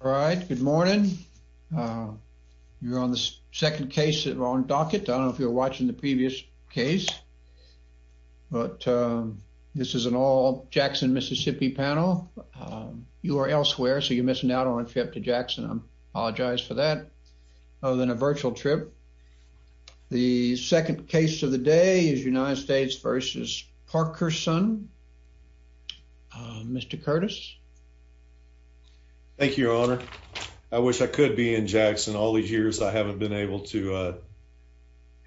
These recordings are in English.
All right, good morning. You're on the second case that we're on docket. I don't know if you were watching the previous case, but this is an all Jackson, Mississippi panel. You are elsewhere, so you're missing out on a trip to Jackson. I apologize for that, other than a virtual trip. The second case of the day is United States v. Parkerson. Mr. Curtis. Thank you, Your Honor. I wish I could be in Jackson all these years. I haven't been able to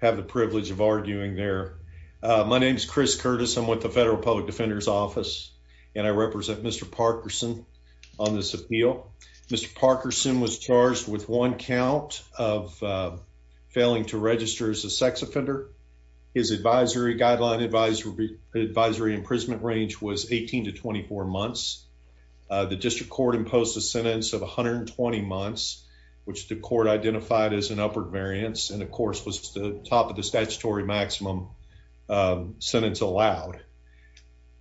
have the privilege of arguing there. My name is Chris Curtis. I'm with the Federal Public Defender's Office, and I represent Mr. Parkerson on this appeal. Mr. Parkerson was charged with one count of failing to register as a sex offender. His advisory guideline advisory imprisonment range was 18 to 24 months. The district court imposed a sentence of 120 months, which the court identified as an upward variance and, of course, was the top of the statutory maximum sentence allowed.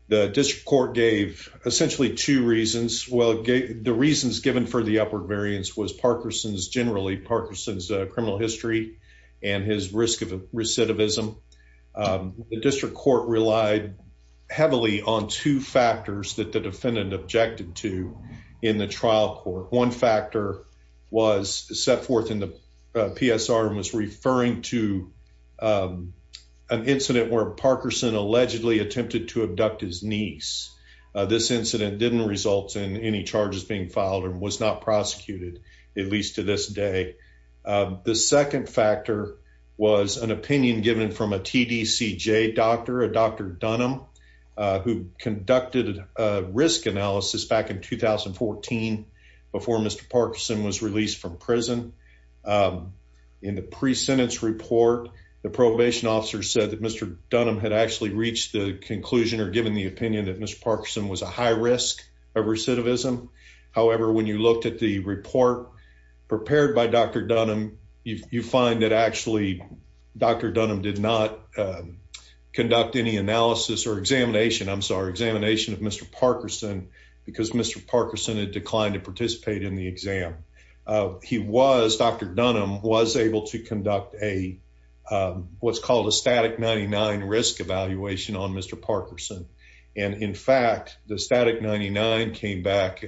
The district court gave essentially two reasons. Well, the reasons given for the upward variance was Parkerson's generally Parkerson's criminal history and his risk of recidivism. The district court relied heavily on two factors that the defendant objected to in the trial court. One factor was set forth in the PSR and was referring to an incident where Parkerson allegedly attempted to abduct his niece. This incident didn't result in any charges being filed and was not prosecuted, at least to this day. The second factor was an opinion given from a TDCJ doctor, a Dr. Dunham, who conducted a risk analysis back in 2014 before Mr. Parkerson was released from prison. In the pre-sentence report, the probation officer said that Mr. Dunham had actually reached the conclusion or given the opinion that Mr. Parkerson was a high risk of recidivism. However, when you looked at the report prepared by Dr. Dunham, you find that actually Dr. Dunham did not conduct any analysis or examination, I'm sorry, examination of Mr. Parkerson because Mr. Parkerson had declined to participate in the exam. Dr. Dunham was able to conduct what's called a static 99 risk evaluation on Mr. Parkerson. In fact, the static 99 came back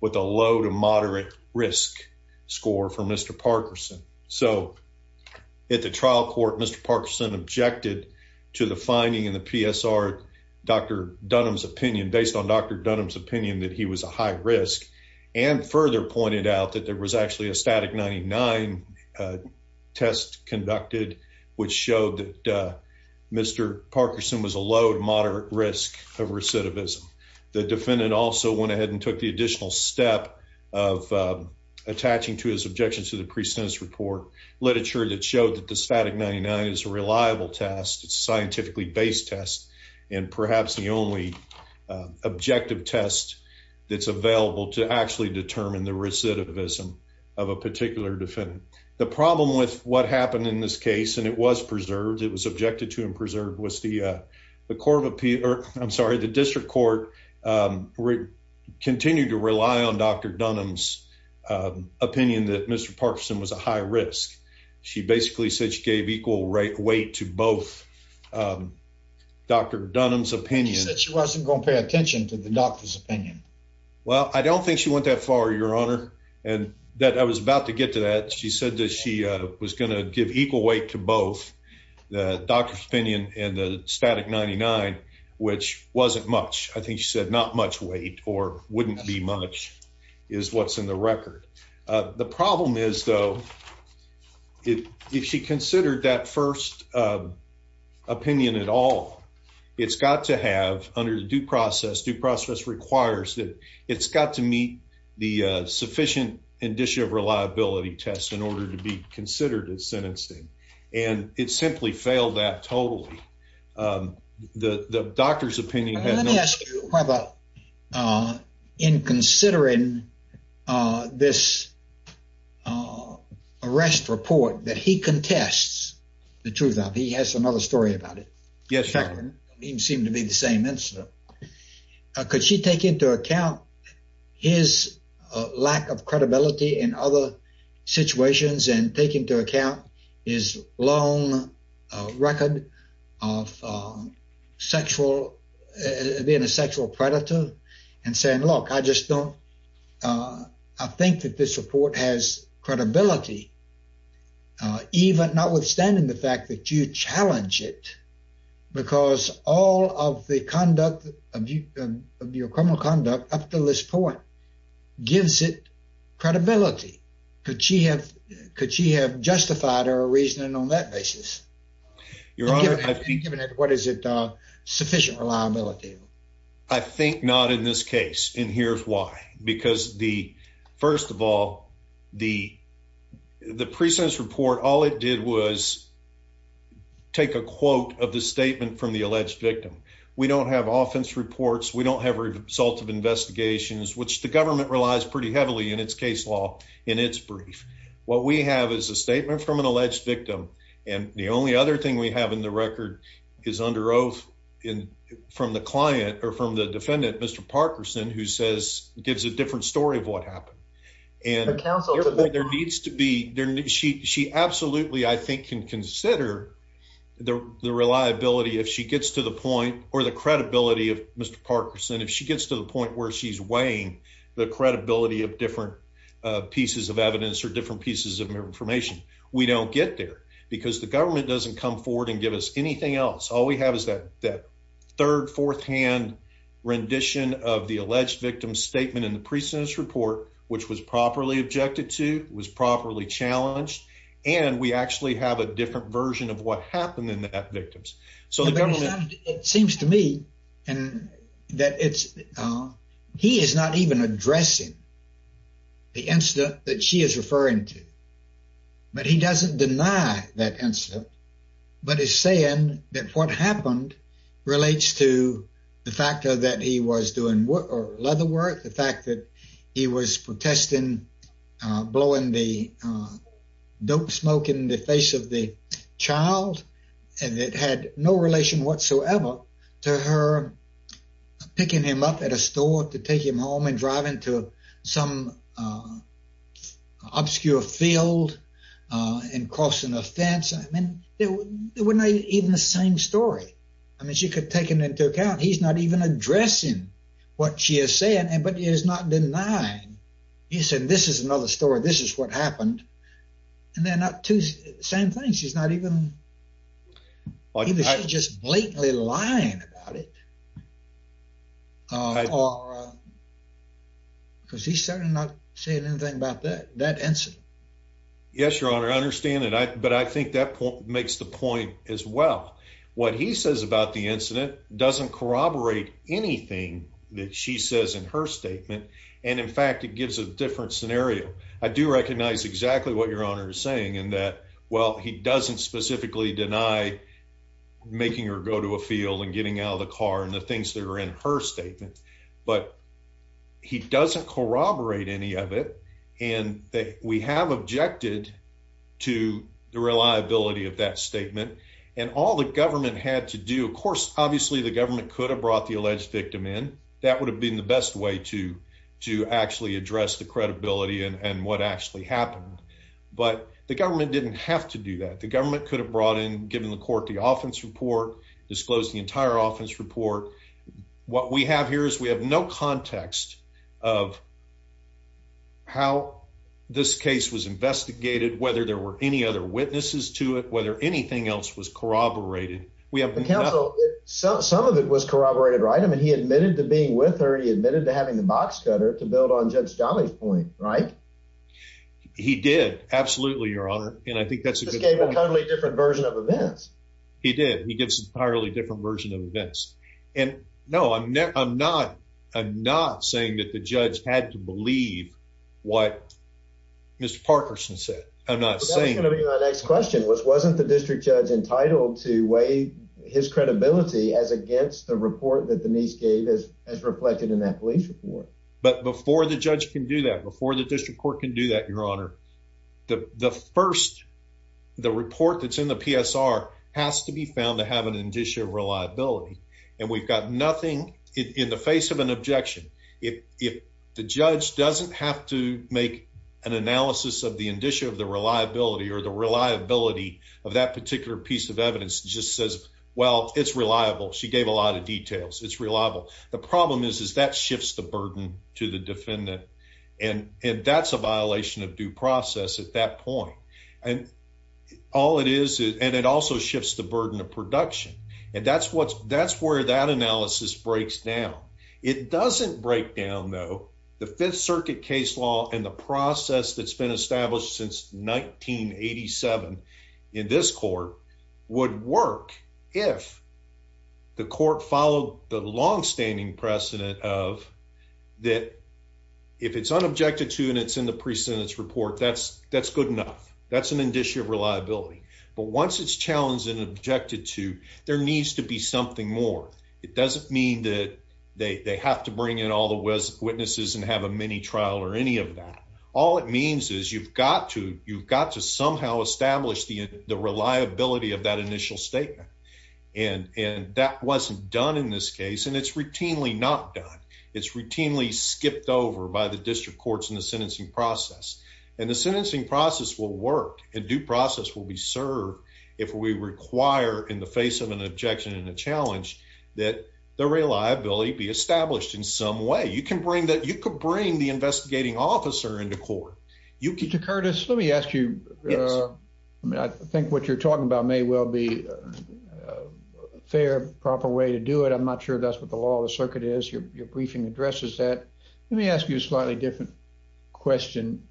with a low to moderate risk score for Mr. Parkerson. At the trial court, Mr. Parkerson objected to the finding in the PSR based on Dr. Dunham's opinion that he was a high risk and further pointed out that there was actually a static 99 test conducted which showed that Mr. Parkerson was a low to moderate risk of recidivism. The defendant also went ahead and took the additional step of attaching to his objection to the pre-sentence report literature that showed that the static 99 is a reliable test, it's a scientifically based test, and perhaps the only objective test that's available to determine the recidivism of a particular defendant. The problem with what happened in this case, and it was preserved, it was objected to and preserved, was the district court continued to rely on Dr. Dunham's opinion that Mr. Parkerson was a high risk. She basically said she gave equal weight to both Dr. Dunham's opinion. She said she wasn't going to pay attention to the doctor's opinion. Well, I don't think she went that far, your honor, and that I was about to get to that. She said that she was going to give equal weight to both the doctor's opinion and the static 99, which wasn't much. I think she said not much weight or wouldn't be much is what's in the record. The problem is though, if she considered that first opinion at all, it's got to have under the due process, due process requires that it's got to meet the sufficient indicia of reliability test in order to be considered as sentencing. It simply failed that totally. The doctor's opinion had no- Let me ask you whether in considering this arrest report that he contests the truth of, he has another story about it. Yes, your honor. It seemed to be the same incident. Could she take into account his lack of credibility in other situations and take into account his long record of being a sexual predator and saying, look, I just don't, I think that this report has credibility, even notwithstanding the fact that you challenge it because all of the conduct of your criminal conduct up to this point gives it credibility. Could she have justified her reasoning on that basis? Your honor, I think- Given what is it, sufficient reliability? I think not in this case. And here's why. Because the, first of all, the take a quote of the statement from the alleged victim. We don't have offense reports. We don't have a result of investigations, which the government relies pretty heavily in its case law in its brief. What we have is a statement from an alleged victim. And the only other thing we have in the record is under oath from the client or from the defendant, Mr. Parkinson, who says, gives a different story of what happened. And there needs to be, she absolutely, I think, can consider the reliability if she gets to the point, or the credibility of Mr. Parkinson, if she gets to the point where she's weighing the credibility of different pieces of evidence or different pieces of information. We don't get there because the government doesn't come forward and give us anything else. All we have is that third, fourth hand rendition of the alleged victim's statement in the pre-sentence report, which was properly objected to, was properly challenged. And we actually have a different version of what happened in that victim's. So it seems to me that it's, he is not even addressing the incident that she is referring to, but he doesn't deny that incident, but is saying that what happened relates to the that he was doing leather work, the fact that he was protesting, blowing the dope smoke in the face of the child. And it had no relation whatsoever to her picking him up at a store to take him home and driving to some obscure field and crossing a fence. I mean, they were not even the same story. I mean, she could take him into account. He's not even addressing what she is saying, but he is not denying. He said, this is another story. This is what happened. And they're not two same things. He's not even, he was just blatantly lying about it. Because he's certainly not saying anything about that, that incident. Yes, your honor. I understand that. But I think that point makes the point as well. What he says about the incident doesn't corroborate anything that she says in her statement. And in fact, it gives a different scenario. I do recognize exactly what your honor is saying and that, well, he doesn't specifically deny making her go to a field and getting out of the car and the things that are in her statement, but he doesn't corroborate any of it. And that we have objected to the reliability of that statement and all the government had to do. Of course, obviously the government could have brought the alleged victim in. That would have been the best way to actually address the credibility and what actually happened. But the government didn't have to do that. The government could have brought in, given the court the offense report, disclosed the entire offense report. What we have here is we have no context of how this case was investigated, whether there were any other witnesses to it, whether anything else was corroborated. Some of it was corroborated, right? I mean, he admitted to being with her. He admitted to having the box cutter to build on Judge Jolly's point, right? He did. Absolutely, your honor. And I think that's a totally different of events. He did. He gives entirely different version of events. And no, I'm not. I'm not saying that the judge had to believe what Mr. Parkerson said. I'm not saying the next question was wasn't the district judge entitled to weigh his credibility as against the report that Denise gave us as reflected in that police report. But before the judge can do that, before the district court can do that, your honor, the first, the report that's in the PSR has to be found to have an indicia of reliability. And we've got nothing in the face of an objection. If the judge doesn't have to make an analysis of the indicia of the reliability or the reliability of that particular piece of evidence just says, well, it's reliable. She gave a lot of details. It's reliable. The that's a violation of due process at that point. And all it is, and it also shifts the burden of production. And that's what's that's where that analysis breaks down. It doesn't break down, though, the Fifth Circuit case law and the process that's been established since 1987 in this court would work if the court followed the longstanding precedent of that. If it's unobjected to, and it's in the precedence report, that's that's good enough. That's an indicia of reliability. But once it's challenged and objected to, there needs to be something more. It doesn't mean that they have to bring in all the witnesses and have a mini trial or any of that. All it means is you've got to you've got to somehow establish the reliability of that initial statement. And that wasn't done in this case. And it's routinely not done. It's routinely skipped over by the district courts in the sentencing process, and the sentencing process will work and due process will be served. If we require in the face of an objection and a challenge that the reliability be established in some way, you can bring that you could bring the investigating officer into court. You could Curtis, let me ask you. I think what you're talking about may well be a fair, proper way to do it. I'm not sure that's what the law of the circuit is. Your briefing addresses that. Let me ask you a slightly different question.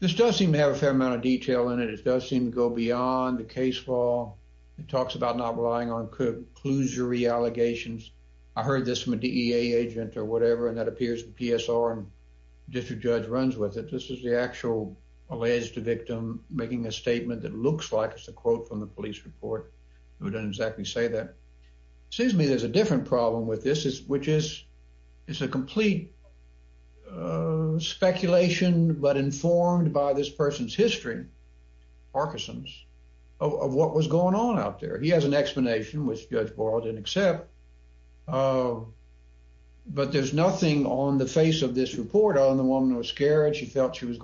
This does seem to have a fair amount of detail in it. It does seem to go beyond the case law. It talks about not relying on clusery allegations. I heard this from a DEA agent or whatever, and that appears PSR and district judge runs with it. This is the actual alleged victim making a report who doesn't exactly say that. It seems to me there's a different problem with this, which is, it's a complete speculation, but informed by this person's history, Parkinson's, of what was going on out there. He has an explanation, which Judge Borel didn't accept. But there's nothing on the face of this report on the woman who was scared. She felt she was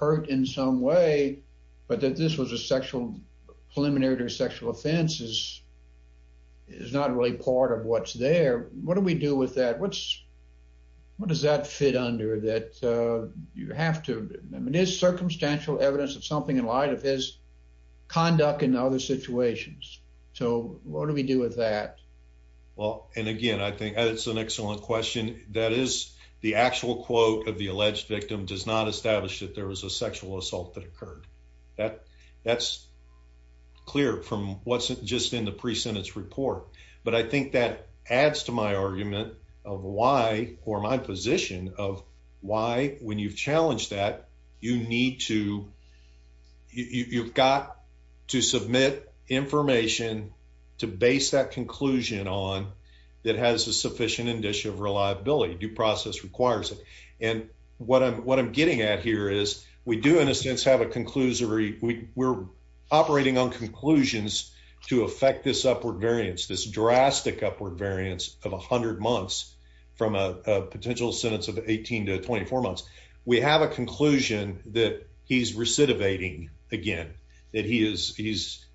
hurt in some way, but that this was a sexual preliminary sexual offense is not really part of what's there. What do we do with that? What does that fit under that? You have to, I mean, there's circumstantial evidence of something in light of his conduct in other situations. So what do we do with that? Well, and again, I think that's an excellent question. That is the actual quote of the sexual assault that occurred. That's clear from what's just in the pre-sentence report. But I think that adds to my argument of why, or my position of why, when you've challenged that, you need to, you've got to submit information to base that conclusion on that has a sufficient reliability. Due process requires it. And what I'm getting at here is we do in a sense have a conclusory, we're operating on conclusions to affect this upward variance, this drastic upward variance of a hundred months from a potential sentence of 18 to 24 months. We have a conclusion that he's recidivating again, that he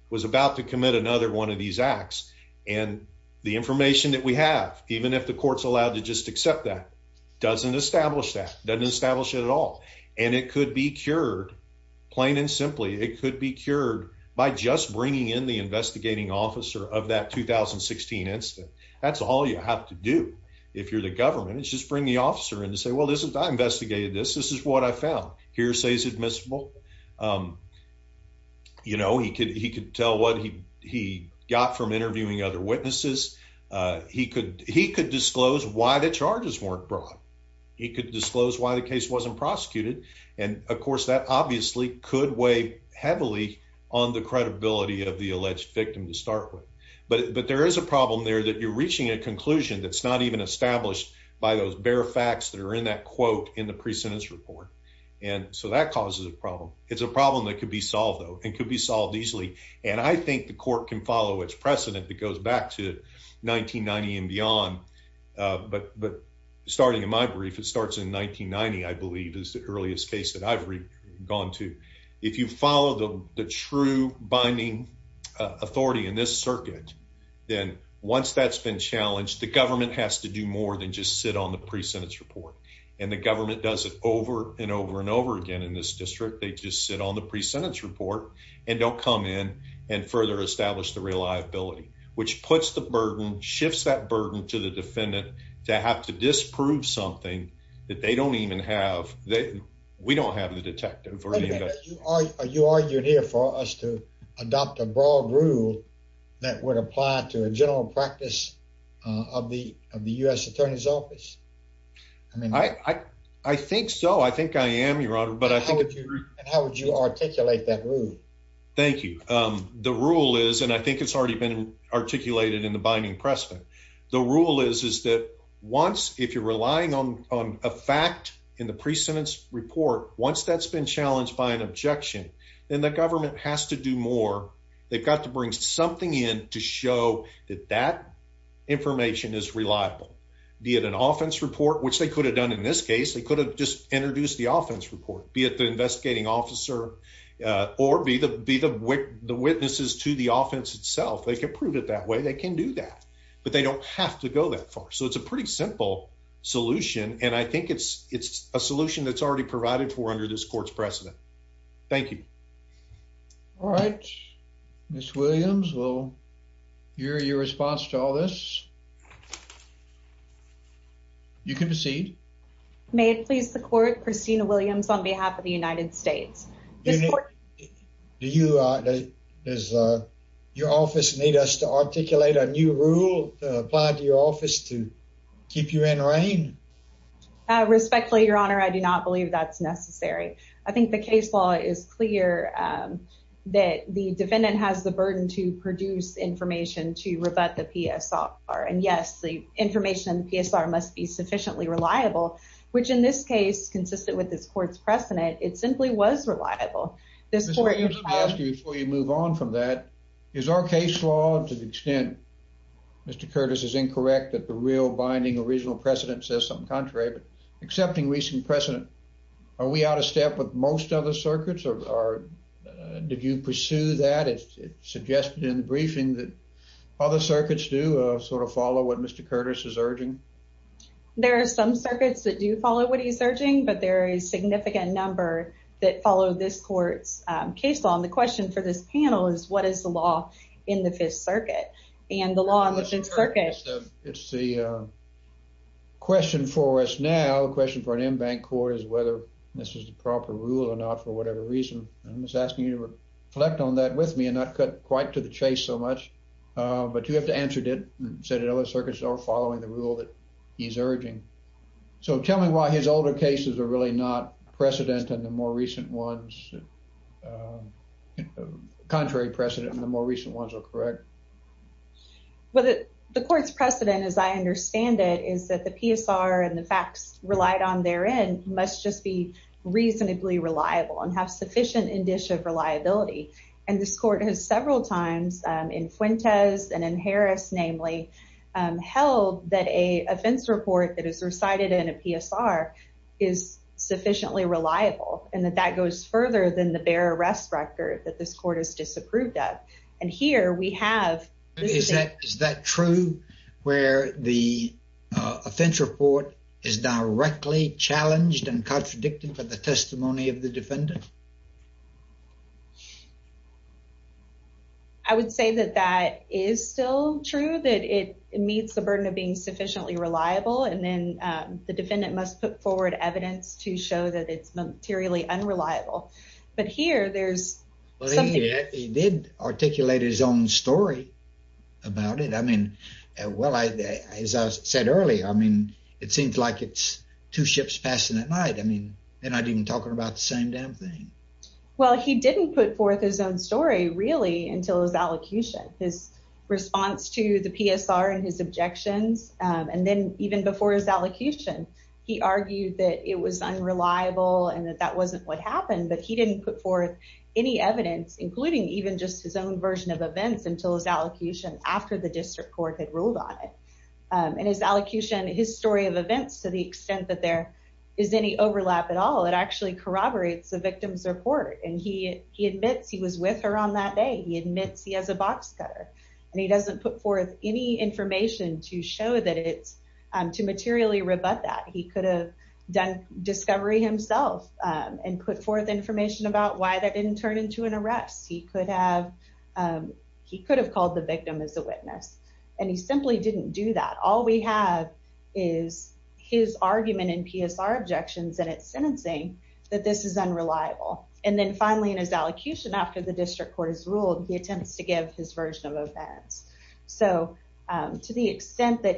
was about to commit another one of these acts. And the information that we have, even if the court's allowed to just accept that, doesn't establish that, doesn't establish it at all. And it could be cured, plain and simply, it could be cured by just bringing in the investigating officer of that 2016 incident. That's all you have to do. If you're the government, it's just bring the officer in to say, well, this is, I investigated this. This is what I found. Hearsay is admissible. He could tell what he got from interviewing other witnesses. He could disclose why the charges weren't brought. He could disclose why the case wasn't prosecuted. And of course, that obviously could weigh heavily on the credibility of the alleged victim to start with. But there is a problem there that you're reaching a conclusion that's not even established by those bare facts that are in that quote in the pre-sentence report. And so that causes a problem. It's a problem that could be solved, though, and could be solved easily. And I think the court can follow its precedent that goes back to 1990 and beyond. But starting in my brief, it starts in 1990, I believe, is the earliest case that I've gone to. If you follow the true binding authority in this circuit, then once that's been challenged, the government has to do more than just sit on the pre-sentence report. And the government does it over and over and over again in this district. They just sit on the pre-sentence report, and they'll come in and further establish the reliability, which puts the burden, shifts that burden to the defendant to have to disprove something that they don't even have. We don't have the detective. Wait a minute. Are you arguing here for us to adopt a broad rule that would apply to a general practice of the U.S. Attorney's Office? I think so. I think I am, Your Honor. And how would you articulate that rule? Thank you. The rule is, and I think it's already been articulated in the binding precedent. The rule is that once, if you're relying on a fact in the pre-sentence report, once that's been challenged by an objection, then the government has to do more. They've got to bring something in to show that that information is reliable, be it an offense report, which they could have done in this case. They could have just introduced the offense report, be it the investigating officer or be the witnesses to the offense itself. They can prove it that way. They can do that, but they don't have to go that far. So it's a pretty simple solution, and I think it's a solution that's already provided for under this court's precedent. Thank you. All right, Ms. Williams, we'll hear your response to all this. You can proceed. May it please the Court, Christina Williams on behalf of the United States. Does your office need us to articulate a new rule to apply to your office to keep you in reign? Respectfully, Your Honor, I do not believe that's necessary. I think the case law is clear that the defendant has the burden to produce information to rebut the PSR. And yes, the information in the PSR must be sufficiently reliable, which in this case, consistent with this court's precedent, it simply was reliable. Ms. Williams, let me ask you before you move on from that, is our case law to the extent, Mr. Curtis is incorrect, that the real binding original precedent says something contrary, but accepting recent precedent, are we out of step with most other circuits or did you pursue that? It's suggested in the briefing that other circuits do sort of follow what Mr. Curtis is urging. There are some circuits that do follow what he's urging, but there are a significant number that follow this court's case law. And the question for this panel is what is the law in the Fifth Circuit? And the law in the Fifth Circuit... It's the question for us now, the question for an in-bank court is whether this is the proper rule or not for whatever reason. I'm just asking you to reflect on that with me and not cut quite to the chase so much. But you have to answer, did he say that other circuits are following the rule that he's urging? So tell me why his older cases are really not precedent and the more recent ones, the contrary precedent and the more recent ones are correct. Well, the court's precedent, as I understand it, is that the PSR and the facts relied on therein must just be reasonably reliable and have sufficient indicia of reliability. And this court has several times in Fuentes and in Harris, namely, held that an offense report that is recited in a PSR is sufficiently reliable and that that goes further than the bare arrest record that this court has disapproved of. And here we have... Is that true where the offense report is directly challenged and contradicted by the testimony of the defendant? I would say that that is still true, that it meets the burden of being sufficiently reliable and then the defendant must put forward evidence to show that it's materially unreliable. But here there's... He did articulate his own story about it. I mean, well, as I said earlier, I mean, it seems like it's two ships passing at night. I mean, they're not even talking about the same damn thing. Well, he didn't put forth his own story really until his allocution, his response to the PSR and his objections. And then even before his allocution, he argued that it was unreliable and that that wasn't what happened, but he didn't put forth any evidence, including even just his own version of events until his allocution after the district court had ruled on it. And his allocution, his story of events, to the extent that there is any overlap at all, it actually corroborates the victim's report. And he admits he was with her on that day. He admits he has a box cutter and he doesn't put forth any information to show that it's... To materially rebut that. He could have done discovery himself and put forth information about why that didn't turn into an arrest. He could have called the victim as a witness and he simply didn't do that. All we have is his argument and PSR objections and it's sentencing that this is unreliable. And then finally in his allocution after the district court has ruled, he attempts to give his version of events. So to the extent that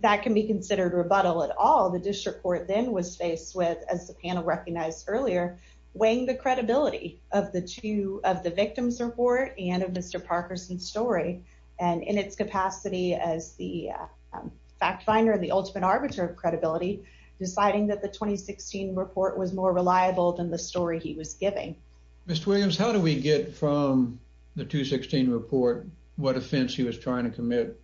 that can be considered rebuttal at all, the district court then was faced with, as the panel recognized earlier, weighing the credibility of the victim's report and of Mr. Parkerson's story. And in its capacity as the fact finder and the ultimate arbiter of credibility, deciding that the 2016 report was more reliable than the story he was giving. Ms. Williams, how do we get from the 2016 report what offense he was trying to commit?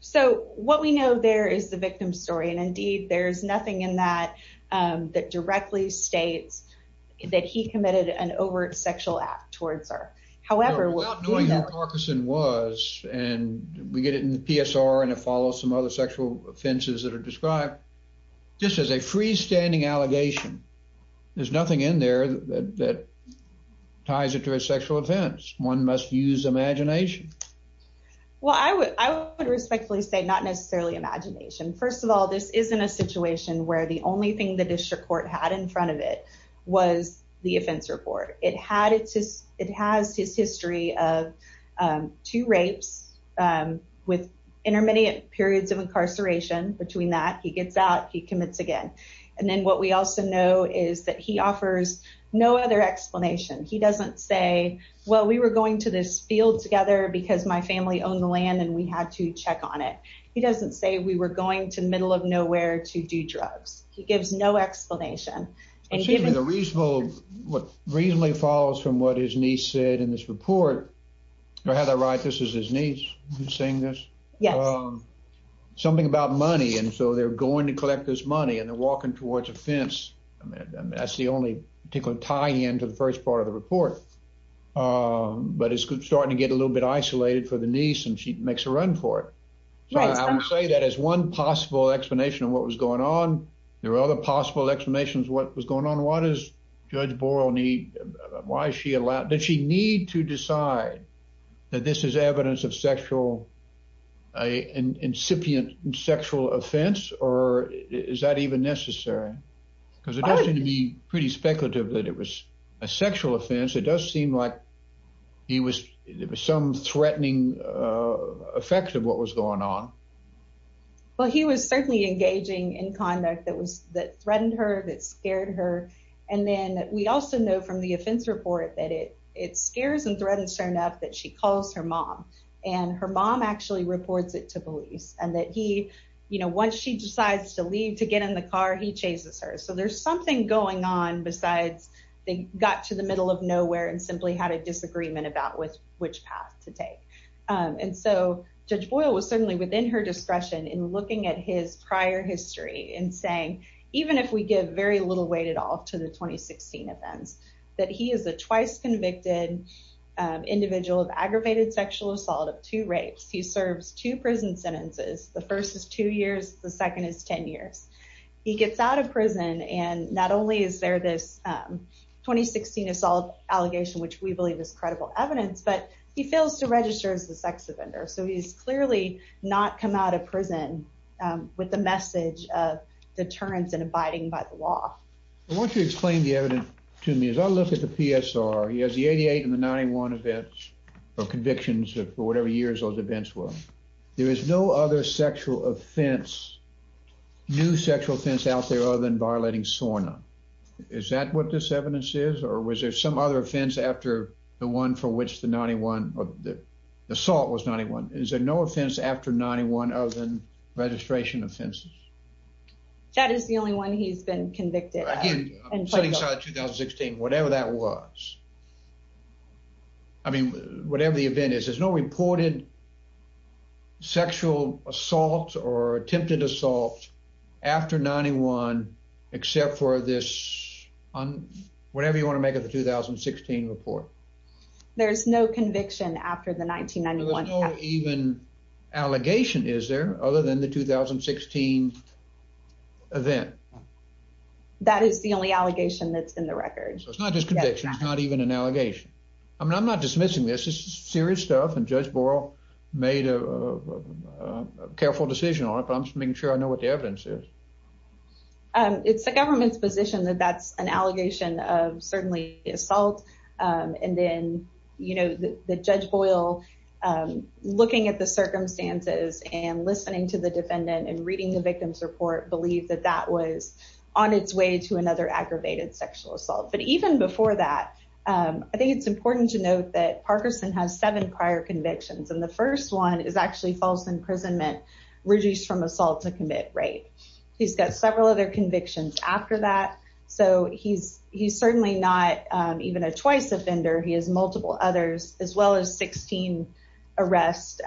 So what we know there is the victim's story. And indeed, there's nothing in that that directly states that he committed an overt sexual act towards her. However... Knowing who Parkerson was, and we get it in the PSR and it follows some other sexual offenses that are described, this is a freestanding allegation. There's nothing in there that ties it to a sexual offense. One must use imagination. Well, I would respectfully say not necessarily imagination. First of all, this isn't a situation where the only thing the district had in front of it was the offense report. It has his history of two rapes with intermediate periods of incarceration. Between that, he gets out, he commits again. And then what we also know is that he offers no other explanation. He doesn't say, well, we were going to this field together because my family owned the land and we had to check on it. He doesn't say we were going to give him an explanation. What reasonably follows from what his niece said in this report, or Heather Wright, this is his niece saying this, something about money. And so they're going to collect this money and they're walking towards a fence. I mean, that's the only particular tie-in to the first part of the report. But it's starting to get a little bit isolated for the niece and she makes a run for it. So I would say that as one possible explanation of what was going on, there are other possible explanations of what was going on. What does Judge Borel need? Did she need to decide that this is evidence of sexual, an incipient sexual offense? Or is that even necessary? Because it doesn't seem to be pretty speculative that it was a sexual offense. It does seem like there was some threatening effect of what was going on. Well, he was certainly engaging in conduct that threatened her, that scared her. And then we also know from the offense report that it scares and threatens her enough that she calls her mom. And her mom actually reports it to police and that once she decides to leave to get in the car, he chases her. So there's something going on besides they got to the middle of nowhere and had a disagreement about which path to take. And so Judge Borel was certainly within her discretion in looking at his prior history and saying, even if we give very little weight at all to the 2016 offense, that he is a twice convicted individual of aggravated sexual assault of two rapes. He serves two prison sentences. The first is two years. The second is 10 years. He gets out of prison. And not only is there this 2016 assault allegation, which we believe is credible evidence, but he fails to register as the sex offender. So he's clearly not come out of prison with the message of deterrence and abiding by the law. I want you to explain the evidence to me. As I look at the PSR, he has the 88 and the 91 events of convictions for whatever years those events were. There is no other sexual offense, new sexual offense out there other than violating SORNA. Is that what this evidence is? Or was there some other offense after the one for which the 91 assault was 91? Is there no offense after 91 other than registration offenses? That is the only one he's been convicted. Setting aside 2016, whatever that was, I mean, whatever the event is, there's no reported sexual assault or attempted assault after 91, except for this, whatever you want to make of the 2016 report. There's no conviction after the 1991. There's no even allegation, is there, other than the 2016 event? No. That is the only allegation that's in the record. So it's not just conviction. It's not even an allegation. I mean, I'm not dismissing this. This is serious stuff. And Judge Boyle made a careful decision on it, but I'm just making sure I know what the evidence is. It's the government's position that that's an allegation of certainly assault. And then, you know, the Judge Boyle looking at the circumstances and listening to the defendant and reading the victim's report believed that that was on its way to another aggravated sexual assault. But even before that, I think it's important to note that Parkerson has seven prior convictions. And the first one is actually false imprisonment reduced from assault to commit rape. He's got several other convictions after that. So he's certainly not even a choice offender. He has multiple others, as well as 16 arrests,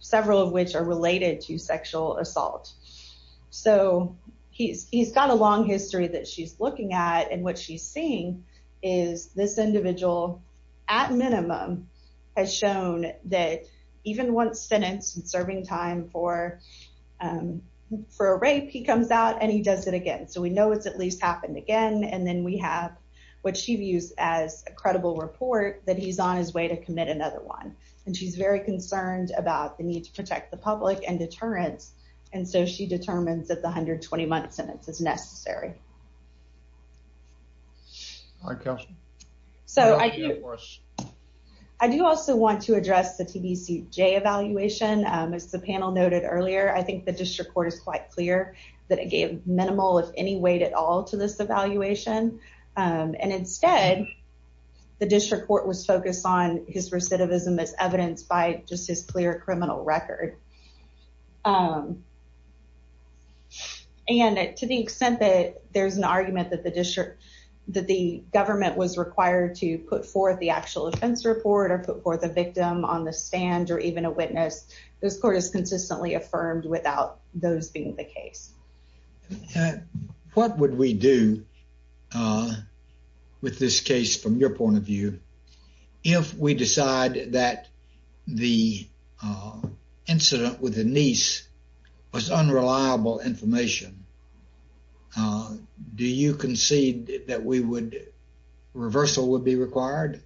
several of which are related to sexual assault. So he's got a long history that she's looking at. And what she's seeing is this individual, at minimum, has shown that even once sentenced and serving time for a rape, he comes out and he does it again. So we know it's at least happened again. And then we have what she views as a credible report that he's on his way to commit another one. And she's very concerned about the need to protect the public and deterrence. And so she determines that the 120-month sentence is necessary. I do also want to address the TBCJ evaluation. As the panel noted earlier, I think the District Court is quite clear that it gave minimal, if any, weight at all to this evaluation. And instead, the District Court was focused on his recidivism as evidenced by just his clear criminal record. And to the extent that there's an argument that the government was required to put forth the actual offense report or put forth a victim on the stand or even a witness, this court is consistently affirmed without those being the case. What would we do with this case, from your point of view, if we decide that the incident with the niece was unreliable information? Do you concede that reversal would be required?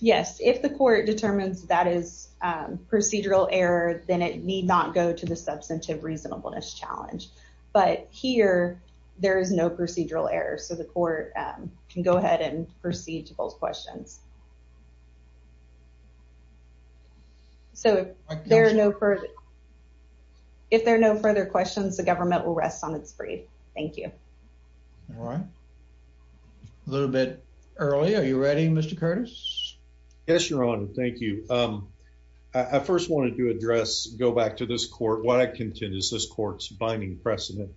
Yes. If the court determines that is procedural error, then it need not go to the substantive reasonableness challenge. But here, there is no procedural error. So the court can go ahead and proceed to both questions. So if there are no further questions, the government will rest on its laurels. Thank you. All right. A little bit early. Are you ready, Mr. Curtis? Yes, Your Honor. Thank you. I first wanted to address, go back to this court, what I contend is this court's binding precedent.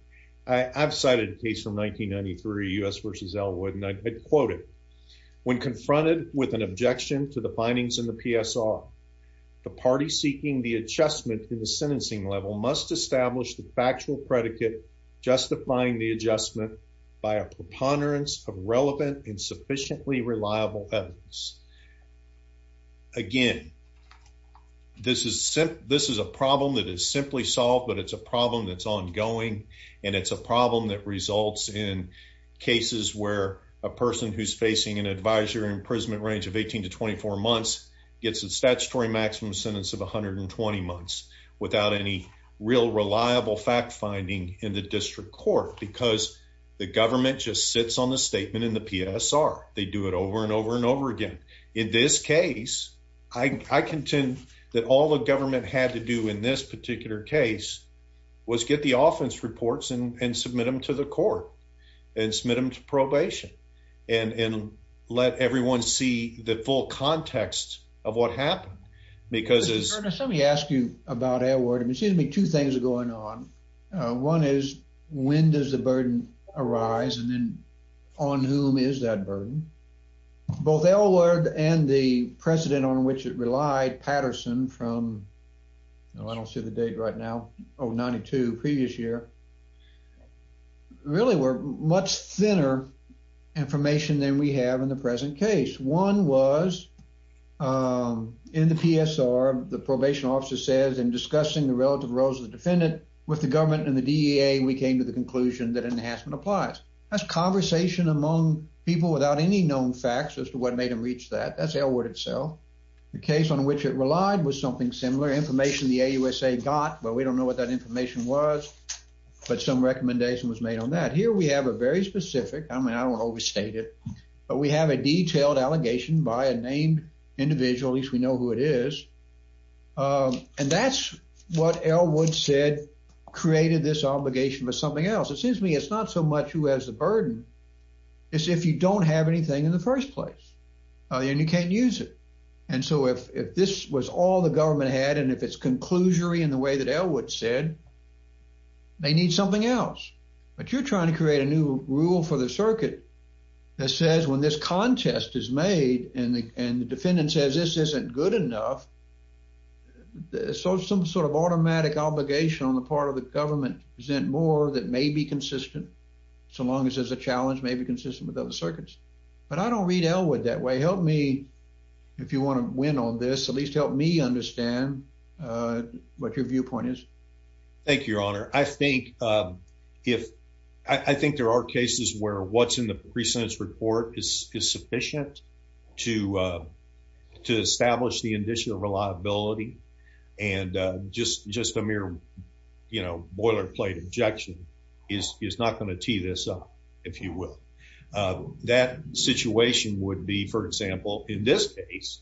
I've cited a case from 1993, U.S. v. Elwood, and I quoted, when confronted with an objection to the findings in the PSR, the party seeking the adjustment by a preponderance of relevant and sufficiently reliable evidence. Again, this is a problem that is simply solved, but it's a problem that's ongoing, and it's a problem that results in cases where a person who's facing an advisory imprisonment range of 18 to 24 months gets a statutory maximum sentence of 120 months without any real reliable fact-finding in the district court because the government just sits on the statement in the PSR. They do it over and over and over again. In this case, I contend that all the government had to do in this particular case was get the offense reports and submit them to the court and submit them to probation and let everyone see the full context of what happened. Because as... Mr. Turner, let me ask you about Elwood. It seems to me two things are going on. One is, when does the burden arise and then on whom is that burden? Both Elwood and the precedent on which it relied, Patterson, from, I don't see the date right now, oh, 92, previous year, really were much thinner information than we have in the present case. One was in the PSR, the probation officer says, in discussing the relative roles of the defendant with the government and the DEA, we came to the conclusion that enhancement applies. That's conversation among people without any known facts as to what made them reach that. That's Elwood itself. The case on which it relied was something similar. Information the AUSA got, well, we don't know what that information was, but some recommendation was made on that. Here, we have a very specific, I mean, I don't want to overstate it, but we have a detailed allegation by a named individual, at least we know who it is. And that's what Elwood said created this obligation for something else. It seems to me it's not so much who has the burden, it's if you don't have anything in the first place and you can't use it. And so if this was all the government had and if it's conclusory in the way that Elwood said, they need something else. But you're trying to create a new rule for the circuit that says when this contest is made and the defendant says this isn't good enough, so some sort of automatic obligation on the part of the government to present more that may be consistent so long as there's a challenge may be consistent with other circuits. But I don't read Elwood that way. Help me, if you want to win on this, at least help me understand what your viewpoint is. Thank you, Your Honor. I think there are cases where what's in the pre-sentence report is sufficient to establish the initial reliability and just a mere boilerplate objection is not going to tee this up, if you will. That situation would be, for example, in this case,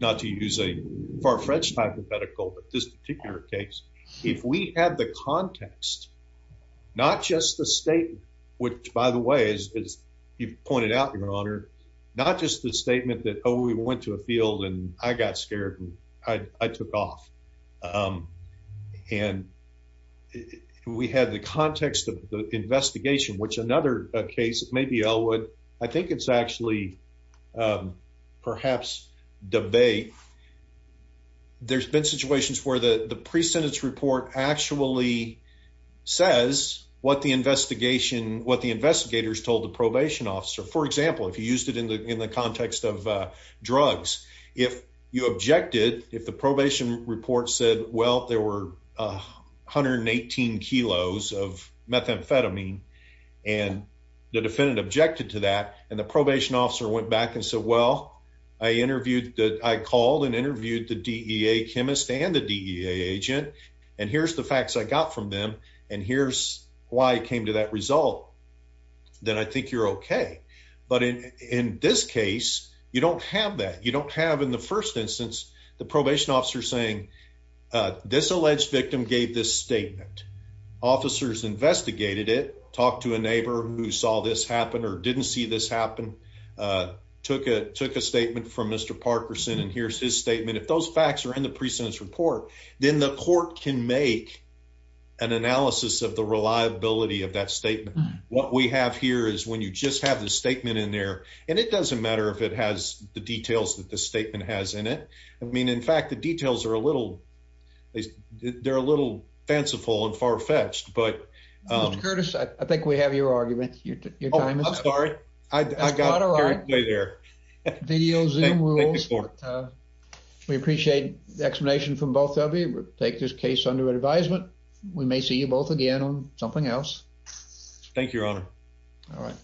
not to use a far-fetched hypothetical, but this particular case, if we had the context, not just the statement, which by the way, as you've pointed out, Your Honor, not just the statement that, oh, we went to a field and I got scared and I took off. And we had the context of the investigation, which another case, maybe Elwood, I think it's actually perhaps debate. There's been situations where the pre-sentence report actually says what the investigation, what the investigators told the probation officer. For example, if you used it in the context of drugs, if you objected, if the probation report said, well, there were 118 kilos of methamphetamine and the defendant objected to that and the probation officer went back and said, well, I called and interviewed the DEA chemist and the DEA agent, and here's the facts I got from them, and here's why it came to that result, then I think you're okay. But in this case, you don't have that. You don't have in the first instance, the probation officer saying, this alleged victim gave this statement, officers investigated it, talked to a neighbor who saw this happen or didn't see this happen, took a statement from Mr. Parkerson and here's his statement. If those facts are in the pre-sentence report, then the court can make an analysis of the reliability of that statement. What we have here is when you just have the statement in there, and it doesn't matter if it has the details that the statement has in it. I mean, in fact, the details are a little, they're a little fanciful and far from it. I'm sorry. I got carried away there. We appreciate the explanation from both of you. Take this case under advisement. We may see you both again on something else. Thank you, Your Honor. All right.